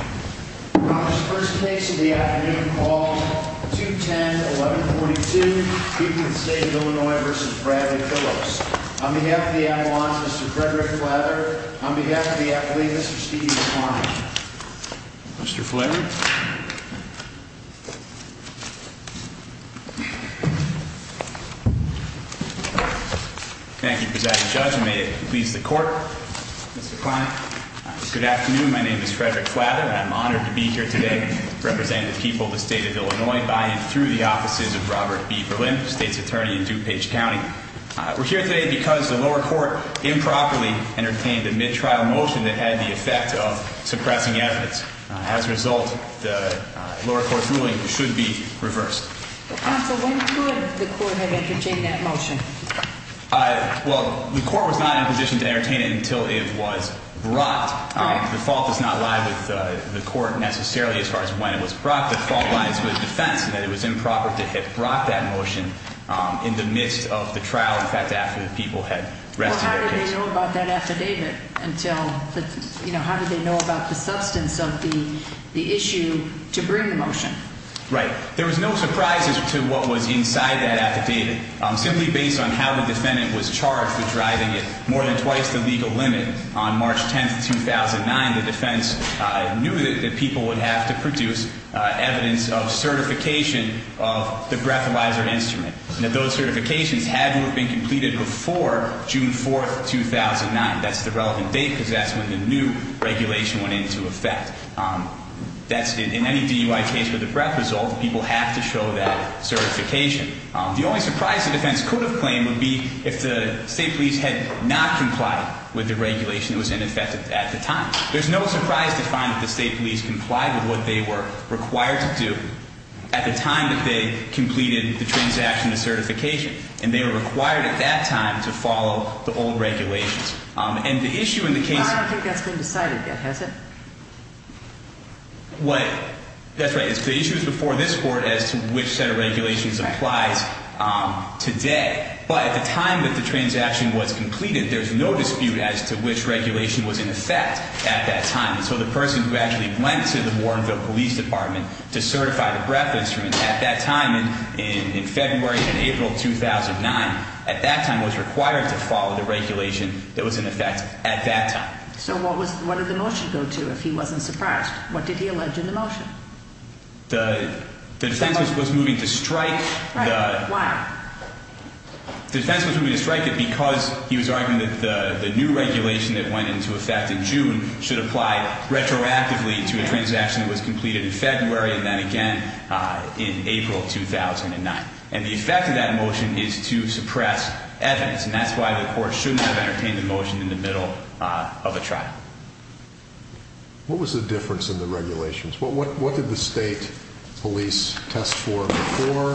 On behalf of the athlete, Mr. Steve McCline, on behalf of the athlete, Mr. Steve McCline. Mr. Flaherty. Thank you, Presiding Judge, and may it please the Court, Mr. McCline. Good afternoon, my name is Frederick Flaherty, and I'm honored to be here today representing the people of the State of Illinois by and through the offices of Robert B. Berlin, State's Attorney in DuPage County. We're here today because the lower court improperly entertained a mid-trial motion that had the effect of suppressing evidence. As a result, the lower court's ruling should be reversed. Counsel, when could the court have entertained that motion? Well, the court was not in a position to entertain it until it was brought. The fault does not lie with the court necessarily as far as when it was brought. The fault lies with the defense in that it was improper to have brought that motion in the midst of the trial, in fact, after the people had rested their case. Well, how did they know about that affidavit until, you know, how did they know about the substance of the issue to bring the motion? Right. There was no surprises to what was inside that affidavit. Simply based on how the defendant was charged for driving it more than twice the legal limit on March 10th, 2009, the defense knew that people would have to produce evidence of certification of the breathalyzer instrument, and that those certifications had to have been completed before June 4th, 2009. That's the relevant date because that's when the new regulation went into effect. In any DUI case with a breath result, people have to show that certification. The only surprise the defense could have claimed would be if the state police had not complied with the regulation that was in effect at the time. There's no surprise to find that the state police complied with what they were required to do at the time that they completed the transaction of certification, and they were required at that time to follow the old regulations. Well, I don't think that's been decided yet, has it? That's right. The issue is before this Court as to which set of regulations applies today. But at the time that the transaction was completed, there's no dispute as to which regulation was in effect at that time. And so the person who actually went to the Warrenville Police Department to certify the breath instrument at that time in February and April 2009, at that time was required to follow the regulation that was in effect at that time. So what did the motion go to if he wasn't surprised? What did he allege in the motion? The defense was moving to strike. Right. Why? The defense was moving to strike it because he was arguing that the new regulation that went into effect in June should apply retroactively to a transaction that was completed in February and then again in April 2009. And the effect of that motion is to suppress evidence, and that's why the Court shouldn't have entertained the motion in the middle of a trial. What was the difference in the regulations? What did the state police test for before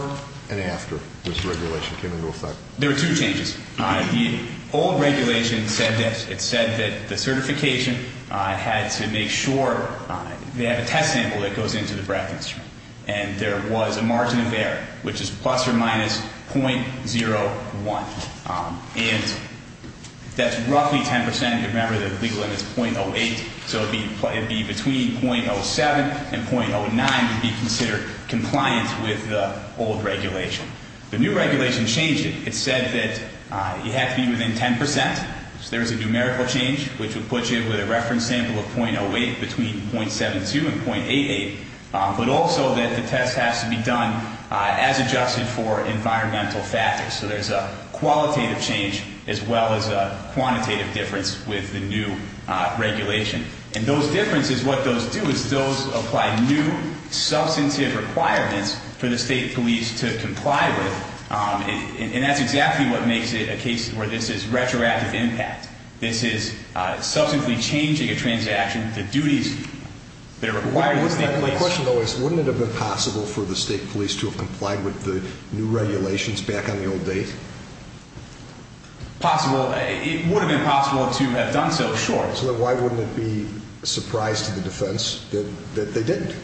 and after this regulation came into effect? There were two changes. The old regulation said that the certification had to make sure they have a test sample that goes into the breath instrument. And there was a margin of error, which is plus or minus 0.01. And that's roughly 10 percent. Remember, the legal limit is 0.08. So it would be between 0.07 and 0.09 to be considered compliant with the old regulation. The new regulation changed it. It said that you have to be within 10 percent. So there was a numerical change, which would put you with a reference sample of 0.08 between 0.72 and 0.88, but also that the test has to be done as adjusted for environmental factors. So there's a qualitative change as well as a quantitative difference with the new regulation. And those differences, what those do is those apply new substantive requirements for the state police to comply with. And that's exactly what makes it a case where this is retroactive impact. This is substantively changing a transaction. My question, though, is wouldn't it have been possible for the state police to have complied with the new regulations back on the old date? Possible. It would have been possible to have done so, sure. So then why wouldn't it be a surprise to the defense that they didn't?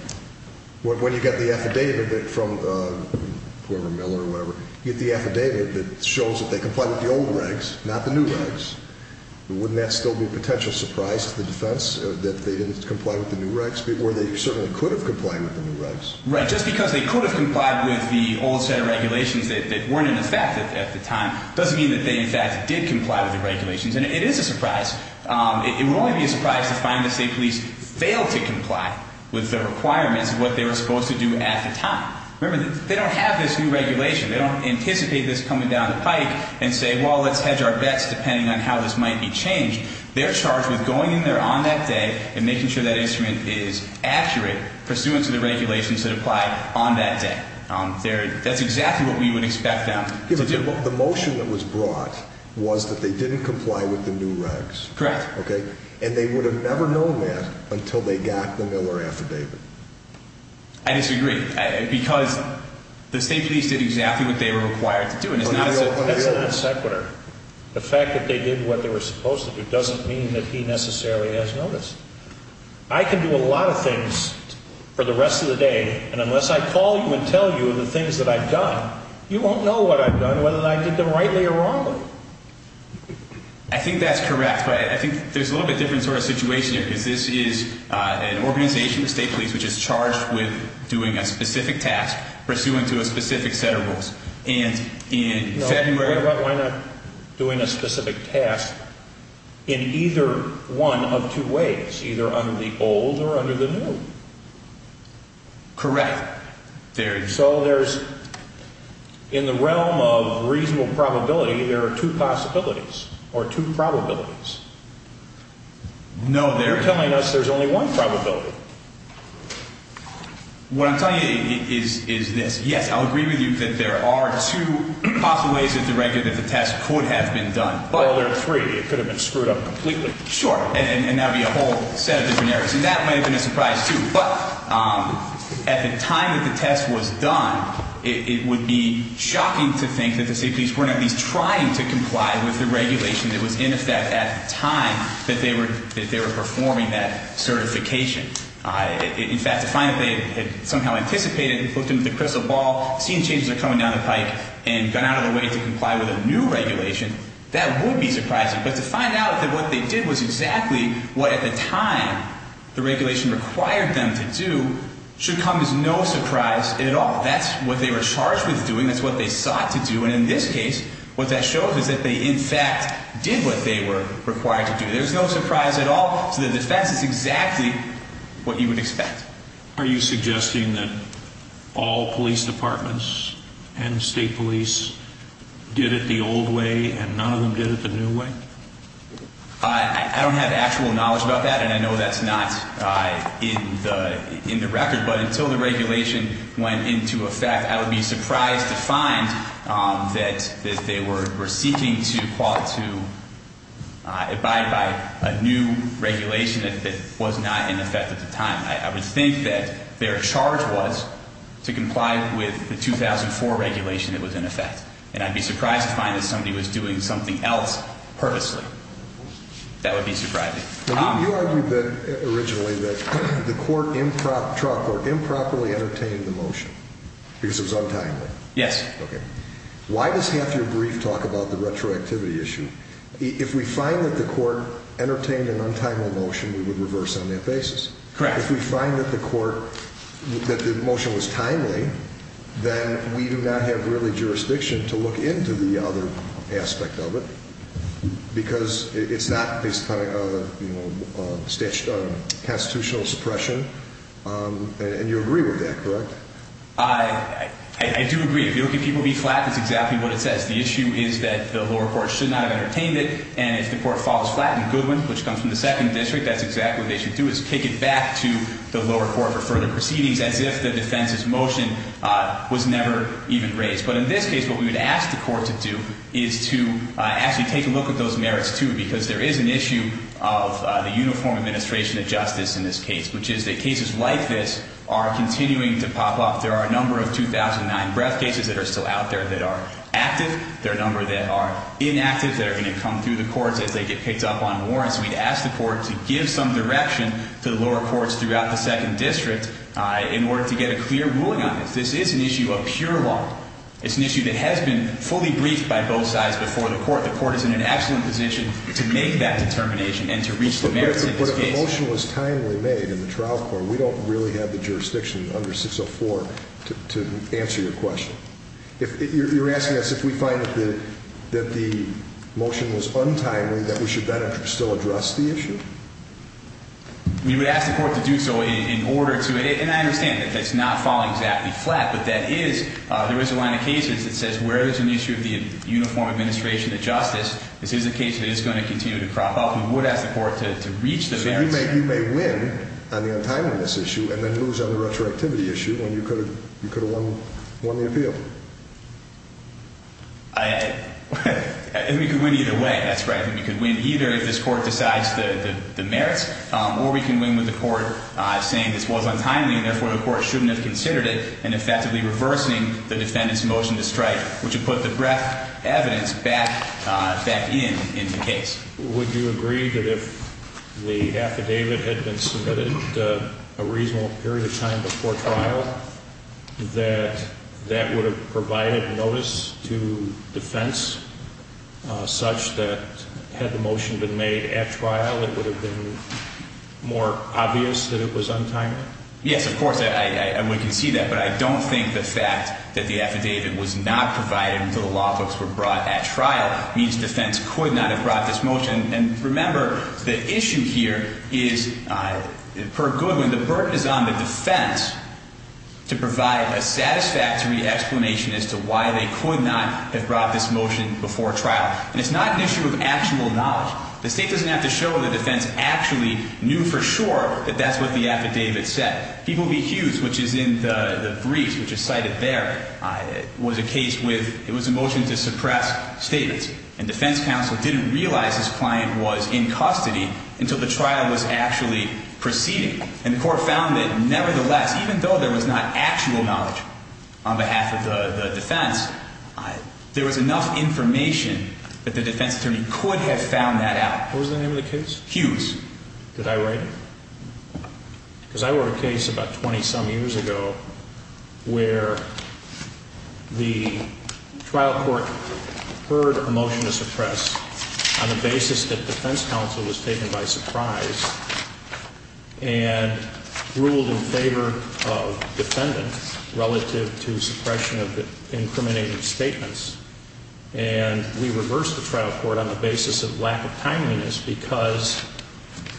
When you get the affidavit from whoever, Miller or whoever, you get the affidavit that shows that they complied with the old regs, not the new regs. Wouldn't that still be a potential surprise to the defense that they didn't comply with the new regs, where they certainly could have complied with the new regs? Right. Just because they could have complied with the old set of regulations that weren't in effect at the time doesn't mean that they, in fact, did comply with the regulations. And it is a surprise. It would only be a surprise to find the state police failed to comply with the requirements of what they were supposed to do at the time. Remember, they don't have this new regulation. They don't anticipate this coming down the pike and say, well, let's hedge our bets depending on how this might be changed. They're charged with going in there on that day and making sure that instrument is accurate, pursuant to the regulations that apply on that day. That's exactly what we would expect them to do. The motion that was brought was that they didn't comply with the new regs. Correct. And they would have never known that until they got the Miller affidavit. I disagree. Because the state police did exactly what they were required to do. That's an executor. The fact that they did what they were supposed to do doesn't mean that he necessarily has notice. I can do a lot of things for the rest of the day, and unless I call you and tell you the things that I've done, you won't know what I've done, whether I did them rightly or wrongly. I think that's correct, but I think there's a little bit different sort of situation here because this is an organization, the state police, which is charged with doing a specific task, pursuant to a specific set of rules. Why not doing a specific task in either one of two ways, either under the old or under the new? Correct. So in the realm of reasonable probability, there are two possibilities, or two probabilities. No, they're telling us there's only one probability. What I'm telling you is this. Yes, I'll agree with you that there are two possible ways that the test could have been done. Well, there are three. It could have been screwed up completely. Sure, and that would be a whole set of different areas. And that might have been a surprise, too. But at the time that the test was done, it would be shocking to think that the state police weren't at least trying to comply with the regulation that was in effect at the time that they were performing that certification. In fact, to find that they had somehow anticipated, looked into the crystal ball, seen changes are coming down the pike, and got out of the way to comply with a new regulation, that would be surprising. But to find out that what they did was exactly what at the time the regulation required them to do should come as no surprise at all. That's what they were charged with doing. That's what they sought to do. And in this case, what that shows is that they, in fact, did what they were required to do. There's no surprise at all. So the defense is exactly what you would expect. Are you suggesting that all police departments and state police did it the old way and none of them did it the new way? I don't have actual knowledge about that, and I know that's not in the record. But until the regulation went into effect, I would be surprised to find that they were seeking to abide by a new regulation that was not in effect at the time. I would think that their charge was to comply with the 2004 regulation that was in effect. And I'd be surprised to find that somebody was doing something else purposely. That would be surprising. You argued originally that the trial court improperly entertained the motion because it was untimely. Yes. Okay. Why does half your brief talk about the retroactivity issue? If we find that the court entertained an untimely motion, we would reverse on that basis. Correct. If we find that the motion was timely, then we do not have really jurisdiction to look into the other aspect of it because it's not based upon a constitutional suppression, and you agree with that, correct? I do agree. If you're looking at people being flat, that's exactly what it says. The issue is that the lower court should not have entertained it, and if the court falls flat in Goodwin, which comes from the second district, that's exactly what they should do is kick it back to the lower court for further proceedings as if the defense's motion was never even raised. But in this case, what we would ask the court to do is to actually take a look at those merits, too, because there is an issue of the uniform administration of justice in this case, which is that cases like this are continuing to pop up. There are a number of 2009 breath cases that are still out there that are active. There are a number that are inactive that are going to come through the courts as they get picked up on warrants. We'd ask the court to give some direction to the lower courts throughout the second district in order to get a clear ruling on this. This is an issue of pure law. It's an issue that has been fully briefed by both sides before the court. The court is in an excellent position to make that determination and to reach the merits of this case. But if the motion was timely made in the trial court, we don't really have the jurisdiction under 604 to answer your question. You're asking us if we find that the motion was untimely that we should better still address the issue? We would ask the court to do so in order to, and I understand that that's not falling exactly flat, but there is a line of cases that says where there's an issue of the uniform administration of justice, this is a case that is going to continue to crop up. We would ask the court to reach the merits. So you may win on the untimeliness issue and then lose on the retroactivity issue when you could have won the appeal? We could win either way, that's right. We could win either if this court decides the merits or we can win with the court saying this was untimely and therefore the court shouldn't have considered it and effectively reversing the defendant's motion to strike, which would put the breadth of evidence back in in the case. Would you agree that if the affidavit had been submitted a reasonable period of time before trial that that would have provided notice to defense such that had the motion been made at trial it would have been more obvious that it was untimely? Yes, of course, and we can see that, but I don't think the fact that the affidavit was not provided until the law books were brought at trial means defense could not have brought this motion. And remember, the issue here is, per Goodwin, the burden is on the defense to provide a satisfactory explanation as to why they could not have brought this motion before trial. And it's not an issue of actual knowledge. The state doesn't have to show the defense actually knew for sure that that's what the affidavit said. People v. Hughes, which is in the briefs which is cited there, was a case with, it was a motion to suppress statements, and defense counsel didn't realize his client was in custody until the trial was actually proceeding. And the court found that nevertheless, even though there was not actual knowledge on behalf of the defense, there was enough information that the defense attorney could have found that out. What was the name of the case? Hughes. Did I write it? Because I wrote a case about 20-some years ago where the trial court heard a motion to suppress on the basis that defense counsel was taken by surprise and ruled in favor of defendant relative to suppression of the incriminating statements. And we reversed the trial court on the basis of lack of timeliness because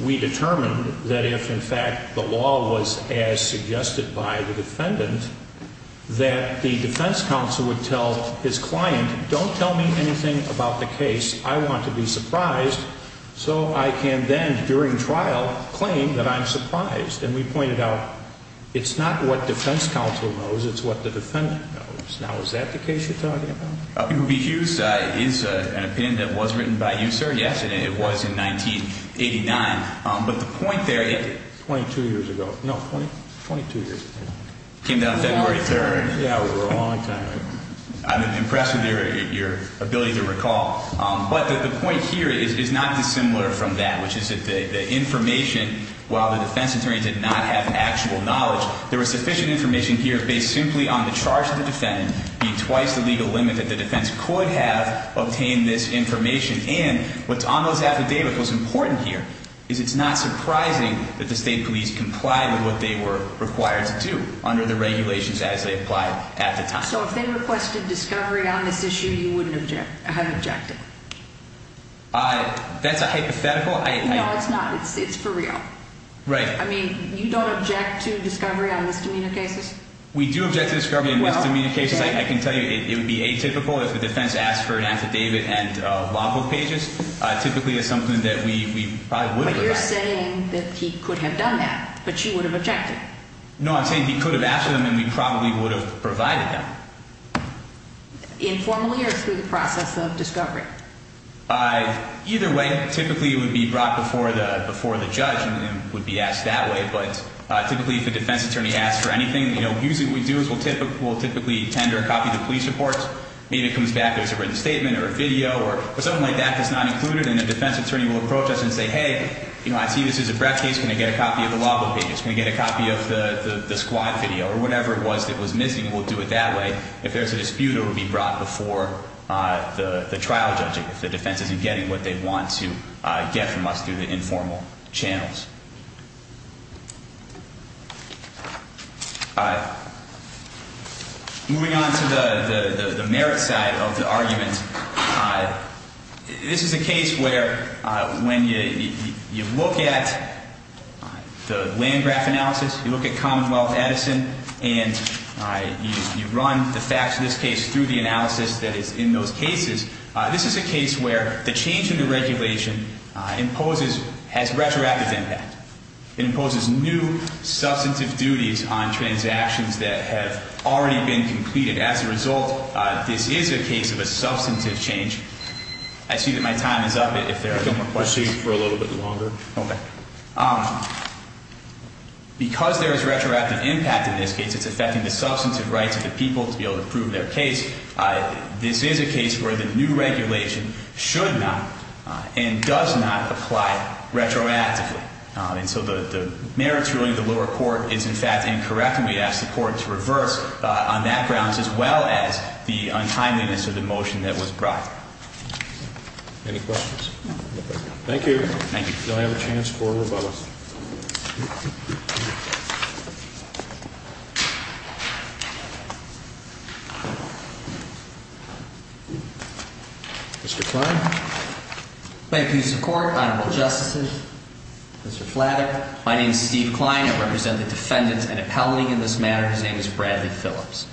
we determined that if, in fact, the law was as suggested by the defendant, that the defense counsel would tell his client, don't tell me anything about the case. I want to be surprised so I can then, during trial, claim that I'm surprised. And we pointed out it's not what defense counsel knows. It's what the defendant knows. Now, is that the case you're talking about? Yes, it was in 1989. But the point there is 22 years ago. No, 22 years ago. Came down February 3rd. Yeah, we were a long time ago. I'm impressed with your ability to recall. But the point here is not dissimilar from that, which is that the information, while the defense attorney did not have actual knowledge, there was sufficient information here based simply on the charge of the defendant, be twice the legal limit that the defense could have obtained this information in. What's almost affidavit was important here is it's not surprising that the state police complied with what they were required to do under the regulations as they applied at the time. So if they requested discovery on this issue, you wouldn't have objected? That's a hypothetical. No, it's not. It's for real. Right. I mean, you don't object to discovery on misdemeanor cases? We do object to discovery on misdemeanor cases. I can tell you it would be atypical if the defense asked for an affidavit and law book pages. Typically it's something that we probably would have. But you're saying that he could have done that, but you would have objected. No, I'm saying he could have asked for them and we probably would have provided them. Informally or through the process of discovery? Either way, typically it would be brought before the judge and would be asked that way. But typically if the defense attorney asks for anything, usually what we do is we'll typically tender a copy of the police report. Maybe it comes back, there's a written statement or a video or something like that that's not included, and the defense attorney will approach us and say, hey, I see this is a breath case. Can I get a copy of the law book pages? Can I get a copy of the squad video or whatever it was that was missing? We'll do it that way. If there's a dispute, it will be brought before the trial judge if the defense isn't getting what they want to get from us through the informal channels. Moving on to the merit side of the argument, this is a case where when you look at the land graph analysis, you look at Commonwealth Edison and you run the facts of this case through the analysis that is in those cases, this is a case where the change in the regulation has retroactive impact. It imposes new substantive duties on transactions that have already been completed. As a result, this is a case of a substantive change. I see that my time is up if there are no more questions. Proceed for a little bit longer. Okay. Because there is retroactive impact in this case, it's affecting the substantive rights of the people to be able to prove their case. This is a case where the new regulation should not and does not apply retroactively. And so the merits ruling of the lower court is in fact incorrect, and we ask the court to reverse on that grounds as well as the untimeliness of the motion that was brought. Any questions? No. Thank you. Thank you. Do I have a chance for a rebuttal? Mr. Kline. Thank you, Mr. Court, Honorable Justices. Mr. Flatter, my name is Steve Kline. I represent the defendants and appellate in this matter. His name is Bradley Phillips.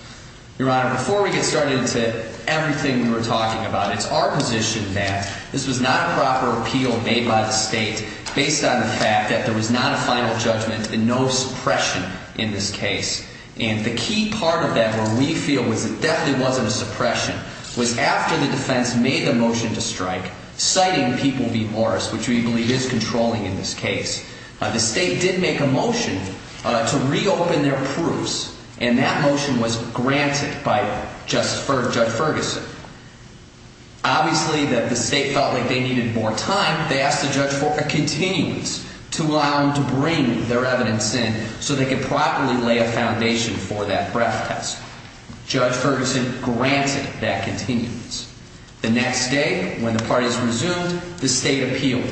Your Honor, before we get started to everything we were talking about, it's our position that this was not a proper appeal made by the state based on the fact that there was not a final judgment and no suppression in this case. And the key part of that where we feel was it definitely wasn't a suppression was after the defense made the motion to strike, citing people v. Morris, which we believe is controlling in this case, the state did make a motion to reopen their proofs, and that motion was granted by Judge Ferguson. Obviously, the state felt like they needed more time. They asked the judge for a continuance to allow them to bring their evidence in so they could properly lay a foundation for that breath test. Judge Ferguson granted that continuance. The next day, when the parties resumed, the state appealed.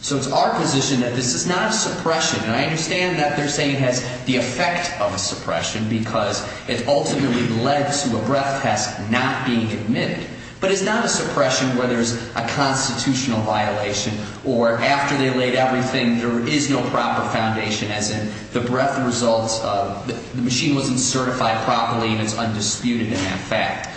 So it's our position that this is not a suppression. And I understand that they're saying it has the effect of a suppression because it ultimately led to a breath test not being admitted. But it's not a suppression where there's a constitutional violation or after they laid everything, there is no proper foundation, as in the breath results, the machine wasn't certified properly, and it's undisputed in that fact.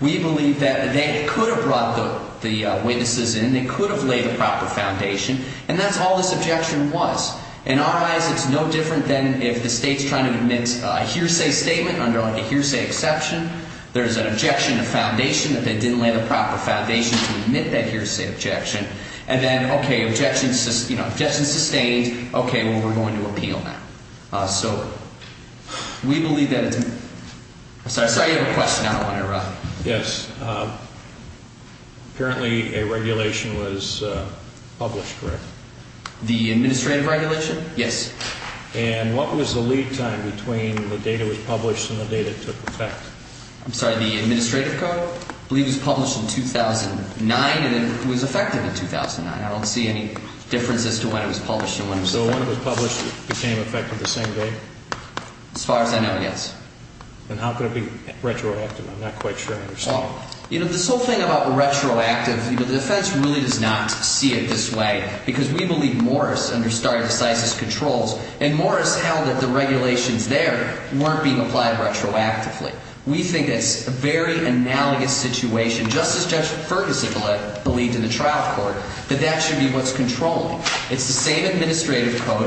We believe that they could have brought the witnesses in. They could have laid the proper foundation. And that's all this objection was. In our eyes, it's no different than if the state's trying to admit a hearsay statement under a hearsay exception. There's an objection to foundation that they didn't lay the proper foundation to admit that hearsay objection. And then, okay, objection sustained. Okay, well, we're going to appeal now. So we believe that it's – I'm sorry, I saw you have a question. I don't want to interrupt. Yes. Apparently, a regulation was published, correct? The administrative regulation? Yes. And what was the lead time between the date it was published and the date it took effect? I'm sorry, the administrative code? I believe it was published in 2009 and it was effective in 2009. I don't see any difference as to when it was published and when it was effective. So when it was published, it became effective the same day? As far as I know, yes. And how could it be retroactive? I'm not quite sure I understand. Well, you know, this whole thing about retroactive, the defense really does not see it this way because we believe Morris understarted decisive controls and Morris held that the regulations there weren't being applied retroactively. We think it's a very analogous situation, just as Judge Ferguson believed in the trial court, that that should be what's controlling. It's the same administrative code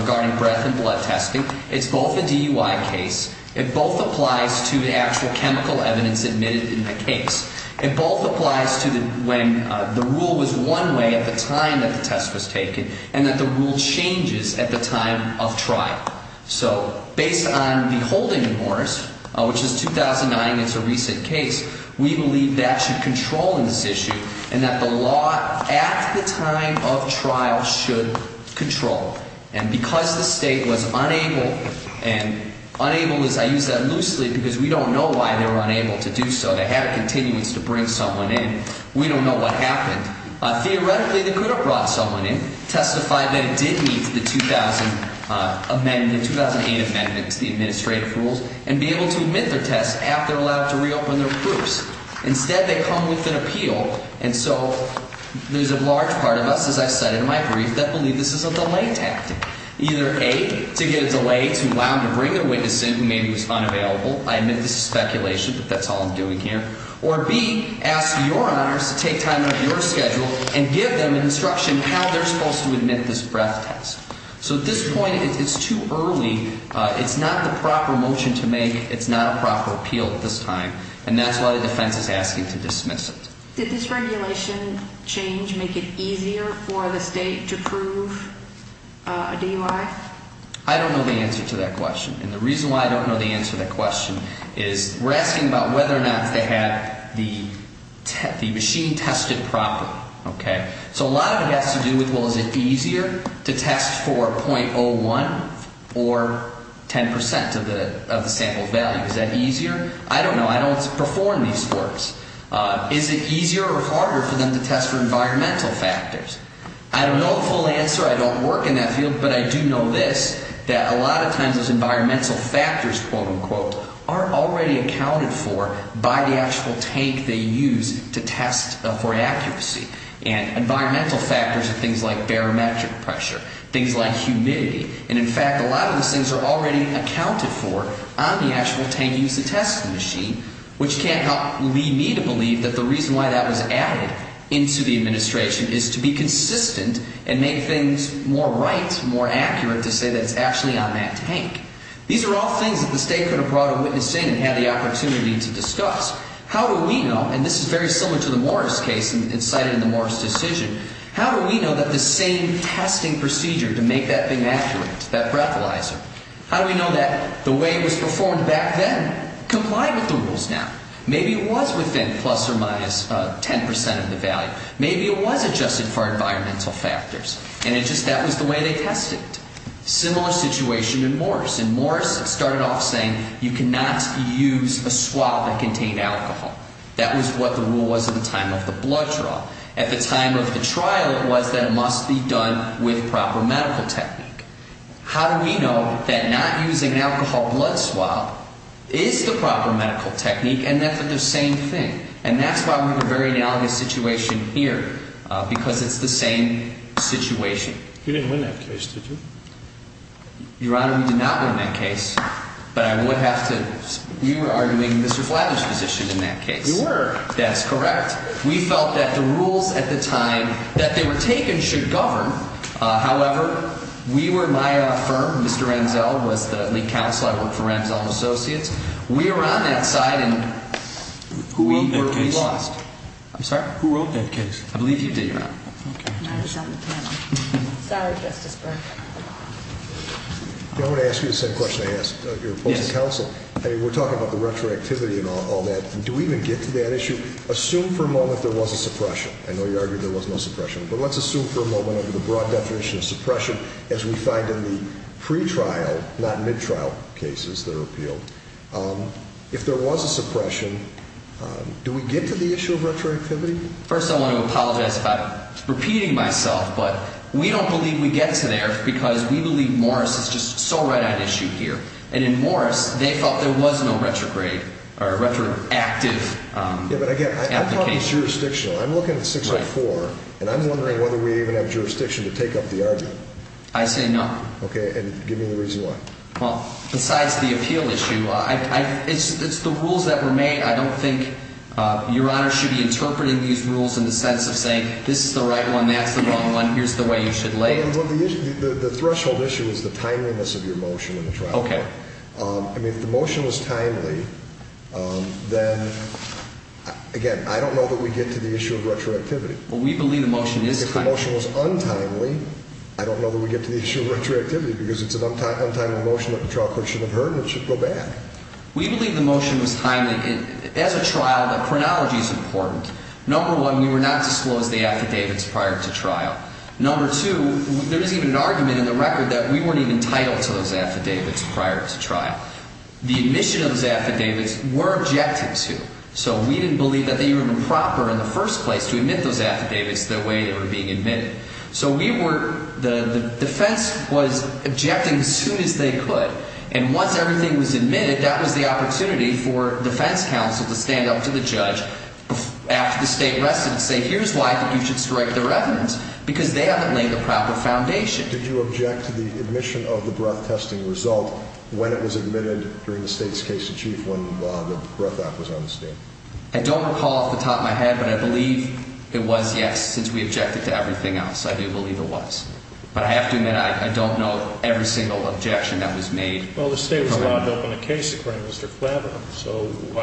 regarding breath and blood testing. It's both a DUI case. It both applies to the actual chemical evidence admitted in the case. It both applies to when the rule was one way at the time that the test was taken and that the rule changes at the time of trial. So based on the holding in Morris, which is 2009 and it's a recent case, we believe that should control in this issue and that the law at the time of trial should control. And because the state was unable, and unable as I use that loosely because we don't know why they were unable to do so. They had a continuance to bring someone in. We don't know what happened. Theoretically, they could have brought someone in, testified that it did meet the 2000 amendment, 2008 amendment to the administrative rules, and be able to admit their test after they're allowed to reopen their groups. Instead, they come with an appeal. And so there's a large part of us, as I said in my brief, that believe this is a delay tactic, either A, to get a delay to allow them to bring their witness in who maybe was unavailable. I admit this is speculation, but that's all I'm doing here. Or B, ask your honors to take time out of your schedule and give them instruction how they're supposed to admit this breath test. So at this point, it's too early. It's not the proper motion to make. It's not a proper appeal at this time. And that's why the defense is asking to dismiss it. Did this regulation change make it easier for the state to prove a DUI? I don't know the answer to that question. And the reason why I don't know the answer to that question is we're asking about whether or not they have the machine tested properly. So a lot of it has to do with, well, is it easier to test for 0.01 or 10% of the sample value? Is that easier? I don't know. I don't perform these works. Is it easier or harder for them to test for environmental factors? I don't know the full answer. I don't work in that field. But I do know this, that a lot of times those environmental factors, quote, unquote, are already accounted for by the actual tank they use to test for accuracy. And environmental factors are things like barometric pressure, things like humidity. And, in fact, a lot of those things are already accounted for on the actual tank used to test the machine, which can't help lead me to believe that the reason why that was added into the administration is to be consistent and make things more right, more accurate, to say that it's actually on that tank. These are all things that the state could have brought a witness in and had the opportunity to discuss. How do we know, and this is very similar to the Morris case, and it's cited in the Morris decision, how do we know that the same testing procedure to make that thing accurate, that breathalyzer, how do we know that the way it was performed back then complied with the rules now? Maybe it was within plus or minus 10% of the value. Maybe it was adjusted for environmental factors, and it just that was the way they tested it. Similar situation in Morris. In Morris, it started off saying you cannot use a swab that contained alcohol. That was what the rule was at the time of the blood draw. At the time of the trial, it was that it must be done with proper medical technique. How do we know that not using an alcohol blood swab is the proper medical technique and that they're the same thing? And that's why we have a very analogous situation here, because it's the same situation. You didn't win that case, did you? Your Honor, we did not win that case, but I would have to – we were arguing Mr. Flavin's position in that case. You were. That's correct. We felt that the rules at the time that they were taken should govern. However, we were – my firm, Mr. Ramsell, was the lead counsel. I worked for Ramsell and Associates. We were on that side, and we lost. Who wrote that case? I'm sorry? Who wrote that case? I believe you did, Your Honor. Okay. I was on the panel. Sorry, Justice Burke. I want to ask you the same question I asked your opposing counsel. I mean, we're talking about the retroactivity and all that. Do we even get to that issue? Assume for a moment there was a suppression. I know you argued there was no suppression, but let's assume for a moment, the broad definition of suppression as we find in the pretrial, not midtrial, cases that are appealed. If there was a suppression, do we get to the issue of retroactivity? First, I want to apologize for repeating myself, but we don't believe we get to there because we believe Morris is just so right on issue here. And in Morris, they felt there was no retrograde or retroactive application. Yeah, but again, I'm talking jurisdictional. I'm looking at 604, and I'm wondering whether we even have jurisdiction to take up the argument. I say no. Okay, and give me the reason why. Well, besides the appeal issue, it's the rules that were made. I don't think Your Honor should be interpreting these rules in the sense of saying this is the right one, that's the wrong one, here's the way you should lay it. Well, the threshold issue is the timeliness of your motion in the trial court. Okay. I mean, if the motion was timely, then, again, I don't know that we get to the issue of retroactivity. Well, we believe the motion is timely. If the motion was untimely, I don't know that we get to the issue of retroactivity because it's an untimely motion that the trial court should have heard and it should go bad. We believe the motion was timely. As a trial, the chronology is important. Number one, we were not disclosed the affidavits prior to trial. Number two, there isn't even an argument in the record that we weren't even entitled to those affidavits prior to trial. The admission of those affidavits were objected to, so we didn't believe that they were improper in the first place to admit those affidavits the way they were being admitted. So we were – the defense was objecting as soon as they could. And once everything was admitted, that was the opportunity for defense counsel to stand up to the judge after the state rested and say, here's why you should strike the reverence, because they haven't laid the proper foundation. Did you object to the admission of the breath testing result when it was admitted during the state's case in chief when the breath act was on the stand? I don't recall off the top of my head, but I believe it was, yes, since we objected to everything else. I do believe it was. But I have to admit I don't know every single objection that was made. Well, the state was allowed to open a case, according to Mr. Flavin.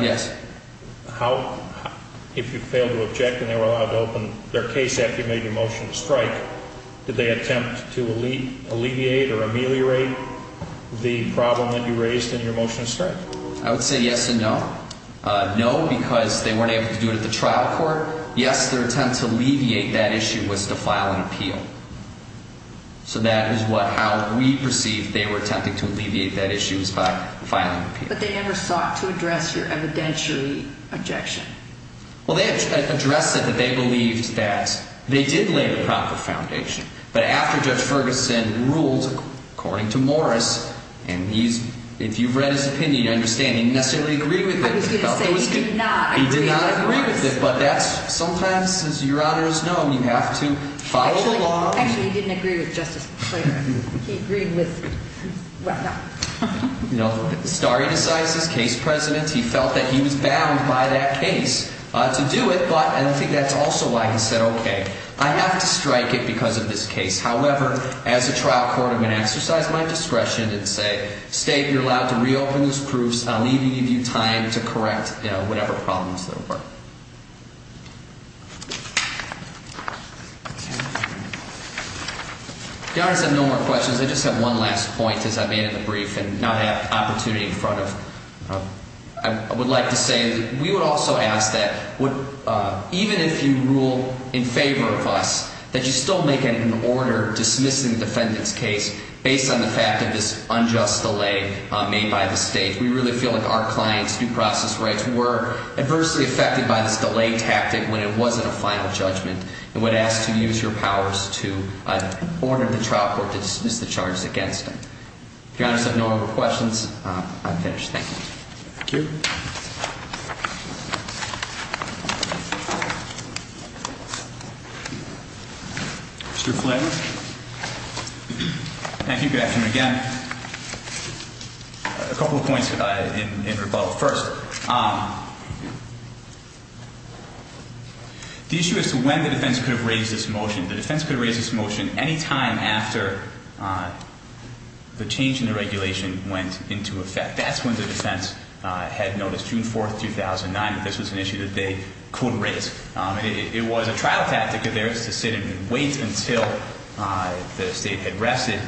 Yes. So how – if you failed to object and they were allowed to open their case after you made your motion to strike, did they attempt to alleviate or ameliorate the problem that you raised in your motion to strike? I would say yes and no. No, because they weren't able to do it at the trial court. Yes, their attempt to alleviate that issue was to file an appeal. So that is what – how we perceived they were attempting to alleviate that issue was by filing an appeal. But they never sought to address your evidentiary objection. Well, they addressed it that they believed that they did lay the proper foundation. But after Judge Ferguson ruled, according to Morris, and he's – if you've read his opinion, you understand, he didn't necessarily agree with it. I was going to say he did not agree with Morris. He did not agree with it, but that's – sometimes, as Your Honor has known, you have to follow the law. Actually, he didn't agree with Justice McClain. He agreed with – well, no. You know, stare decisis, case presidents, he felt that he was bound by that case to do it, but I don't think that's also why he said, okay, I have to strike it because of this case. However, as a trial court, I'm going to exercise my discretion and say, State, you're allowed to reopen these proofs. I'll leave you – give you time to correct, you know, whatever problems there were. Your Honor, I have no more questions. I just have one last point, as I made in the brief and not have opportunity in front of – I would like to say that we would also ask that even if you rule in favor of us, that you still make an order dismissing the defendant's case based on the fact of this unjust delay made by the State. We really feel like our clients' due process rights were adversely affected by this delay tactic when it wasn't a final judgment and would ask to use your powers to order the trial court to dismiss the charge against them. If Your Honor has no more questions, I'm finished. Thank you. Thank you. Mr. Flanagan. Thank you. Good afternoon again. A couple of points in rebuttal first. The issue is when the defense could have raised this motion. The defense could have raised this motion any time after the change in the regulation went into effect. That's when the defense had noticed, June 4, 2009, that this was an issue that they could raise. It was a trial tactic of theirs to sit and wait until the State had rested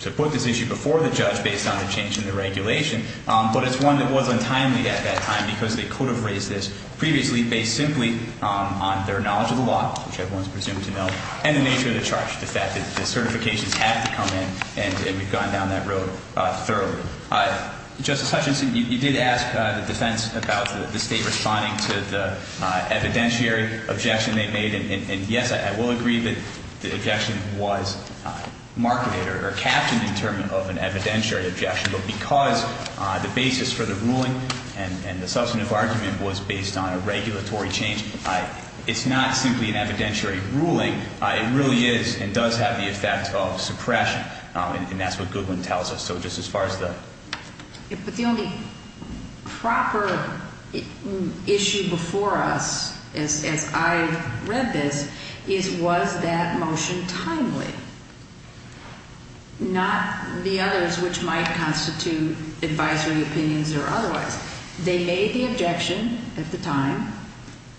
to put this issue before the judge based on the change in the regulation. But it's one that was untimely at that time because they could have raised this previously based simply on their knowledge of the law, which everyone is presumed to know, and the nature of the charge, the fact that the certifications had to come in and had gone down that road thoroughly. Justice Hutchinson, you did ask the defense about the State responding to the evidentiary objection they made. And, yes, I will agree that the objection was marketed or captioned in terms of an evidentiary objection. But because the basis for the ruling and the substantive argument was based on a regulatory change, it's not simply an evidentiary ruling. It really is and does have the effect of suppression. And that's what Goodwin tells us. So just as far as the ‑‑ But the only proper issue before us, as I read this, is was that motion timely? Not the others, which might constitute advisory opinions or otherwise. They made the objection at the time.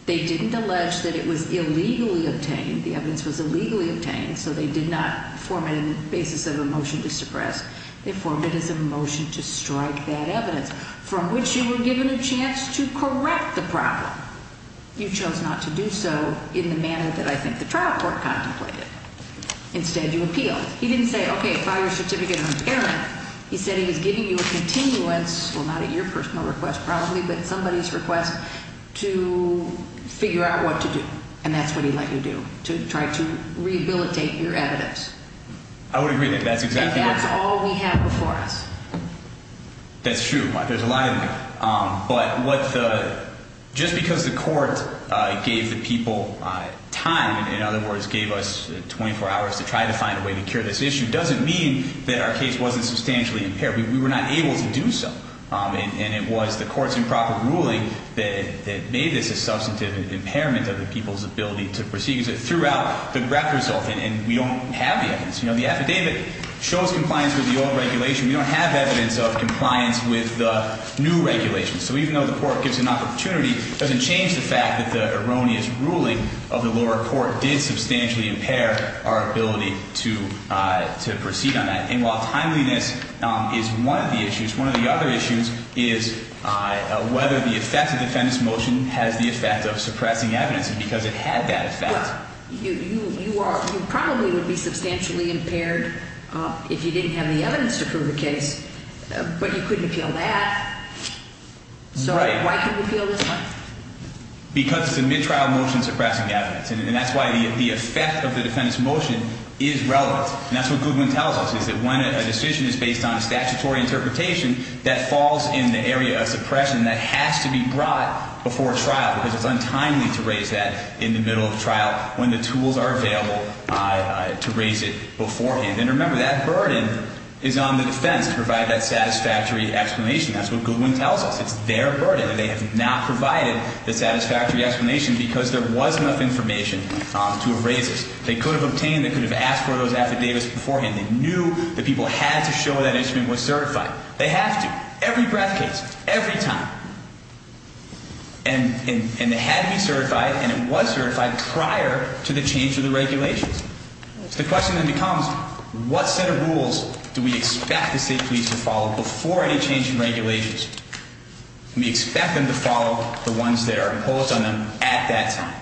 They didn't allege that it was illegally obtained. The evidence was illegally obtained, so they did not form it in the basis of a motion to suppress. They formed it as a motion to strike that evidence, from which you were given a chance to correct the problem. You chose not to do so in the manner that I think the trial court contemplated. Instead, you appealed. He didn't say, okay, file your certificate of impairment. He said he was giving you a continuance, well, not at your personal request probably, but at somebody's request, to figure out what to do. And that's what he let you do, to try to rehabilitate your evidence. I would agree with that. That's exactly what ‑‑ And that's all we have before us. That's true. There's a lot in there. But what the ‑‑ just because the court gave the people time, in other words, gave us 24 hours to try to find a way to cure this issue, doesn't mean that our case wasn't substantially impaired. We were not able to do so. And it was the court's improper ruling that made this a substantive impairment of the people's ability to proceed. Because it threw out the graphic result, and we don't have the evidence. You know, the affidavit shows compliance with the old regulation. We don't have evidence of compliance with the new regulation. So even though the court gives an opportunity, it doesn't change the fact that the erroneous ruling of the lower court did substantially impair our ability to proceed on that. And while timeliness is one of the issues, one of the other issues is whether the effect of defendant's motion has the effect of suppressing evidence. And because it had that effect ‑‑ Well, you are ‑‑ you probably would be substantially impaired if you didn't have the evidence to prove the case. But you couldn't appeal that. Right. So why couldn't you appeal this one? Because it's a midtrial motion suppressing evidence. And that's why the effect of the defendant's motion is relevant. And that's what Goodwin tells us, is that when a decision is based on a statutory interpretation, that falls in the area of suppression that has to be brought before trial because it's untimely to raise that in the middle of trial when the tools are available to raise it beforehand. And remember, that burden is on the defense to provide that satisfactory explanation. That's what Goodwin tells us. It's their burden. They have not provided the satisfactory explanation because there was enough information to have raised it. They could have obtained, they could have asked for those affidavits beforehand. They knew the people had to show that instrument was certified. They have to. Every breath case. Every time. And it had to be certified, and it was certified prior to the change of the regulations. So the question then becomes, what set of rules do we expect the state police to follow before any change in regulations? We expect them to follow the ones that are imposed on them at that time.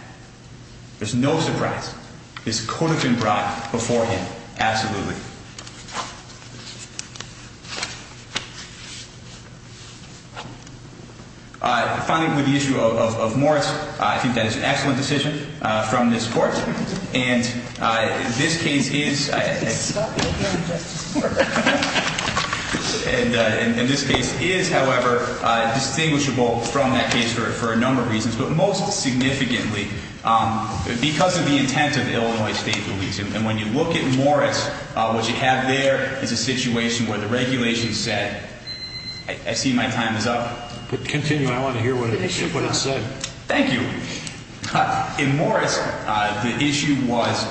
There's no surprise. This could have been brought beforehand. Absolutely. Finally, with the issue of Moritz, I think that is an excellent decision from this court. And this case is, however, distinguishable from that case for a number of reasons, but most significantly because of the intent of Illinois State Police. And when you look at Moritz, what you have there is a situation where the regulations said, I see my time is up. Continue. I want to hear what it said. Thank you. In Moritz, the issue was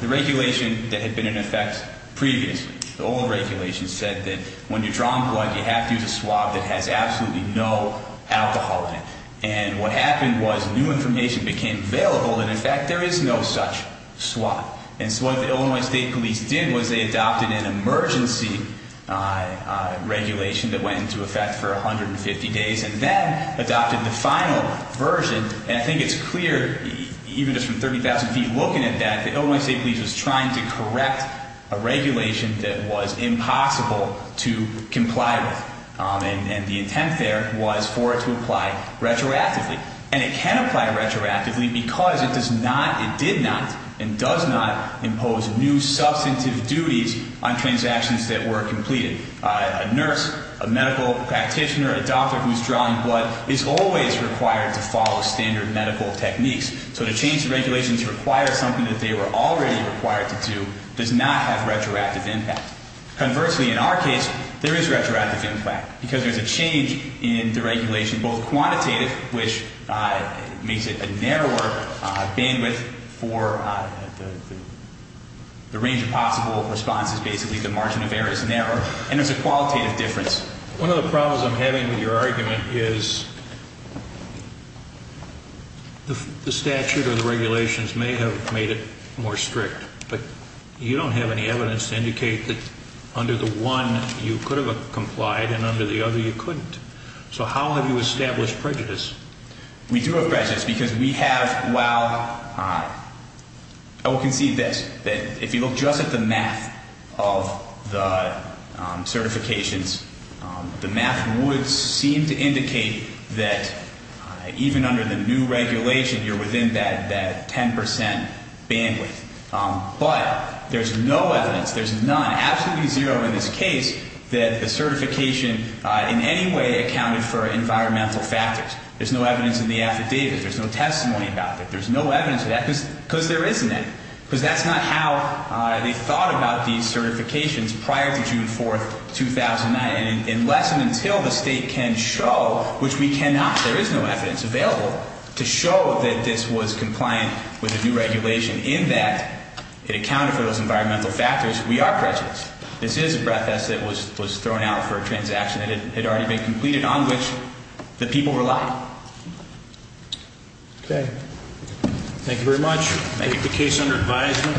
the regulation that had been in effect previously. The old regulation said that when you're drawing blood, you have to use a swab that has absolutely no alcohol in it. And what happened was new information became available, and, in fact, there is no such swab. And so what the Illinois State Police did was they adopted an emergency regulation that went into effect for 150 days and then adopted the final version. And I think it's clear, even just from 30,000 feet looking at that, that Illinois State Police was trying to correct a regulation that was impossible to comply with. And the intent there was for it to apply retroactively. And it can apply retroactively because it does not, it did not and does not impose new substantive duties on transactions that were completed. A nurse, a medical practitioner, a doctor who's drawing blood is always required to follow standard medical techniques. So to change the regulations to require something that they were already required to do does not have retroactive impact. Conversely, in our case, there is retroactive impact because there's a change in the regulation, both quantitative, which makes it a narrower bandwidth for the range of possible responses, basically the margin of error is narrower. And there's a qualitative difference. One of the problems I'm having with your argument is the statute or the regulations may have made it more strict, but you don't have any evidence to indicate that under the one you could have complied and under the other you couldn't. So how have you established prejudice? We do have prejudice because we have, well, I will concede this, that if you look just at the math of the certifications, the math would seem to indicate that even under the new regulation, you're within that 10 percent bandwidth. But there's no evidence, there's none, absolutely zero in this case, that the certification in any way accounted for environmental factors. There's no evidence in the affidavit. There's no testimony about that. There's no evidence of that because there isn't any because that's not how they thought about these certifications prior to June 4th, 2009. And unless and until the state can show, which we cannot, there is no evidence available to show that this was compliant with the new regulation. In that, it accounted for those environmental factors. We are prejudiced. This is a breath test that was thrown out for a transaction that had already been completed on which the people relied. Okay. Thank you very much. Thank you. Is the case under advisement?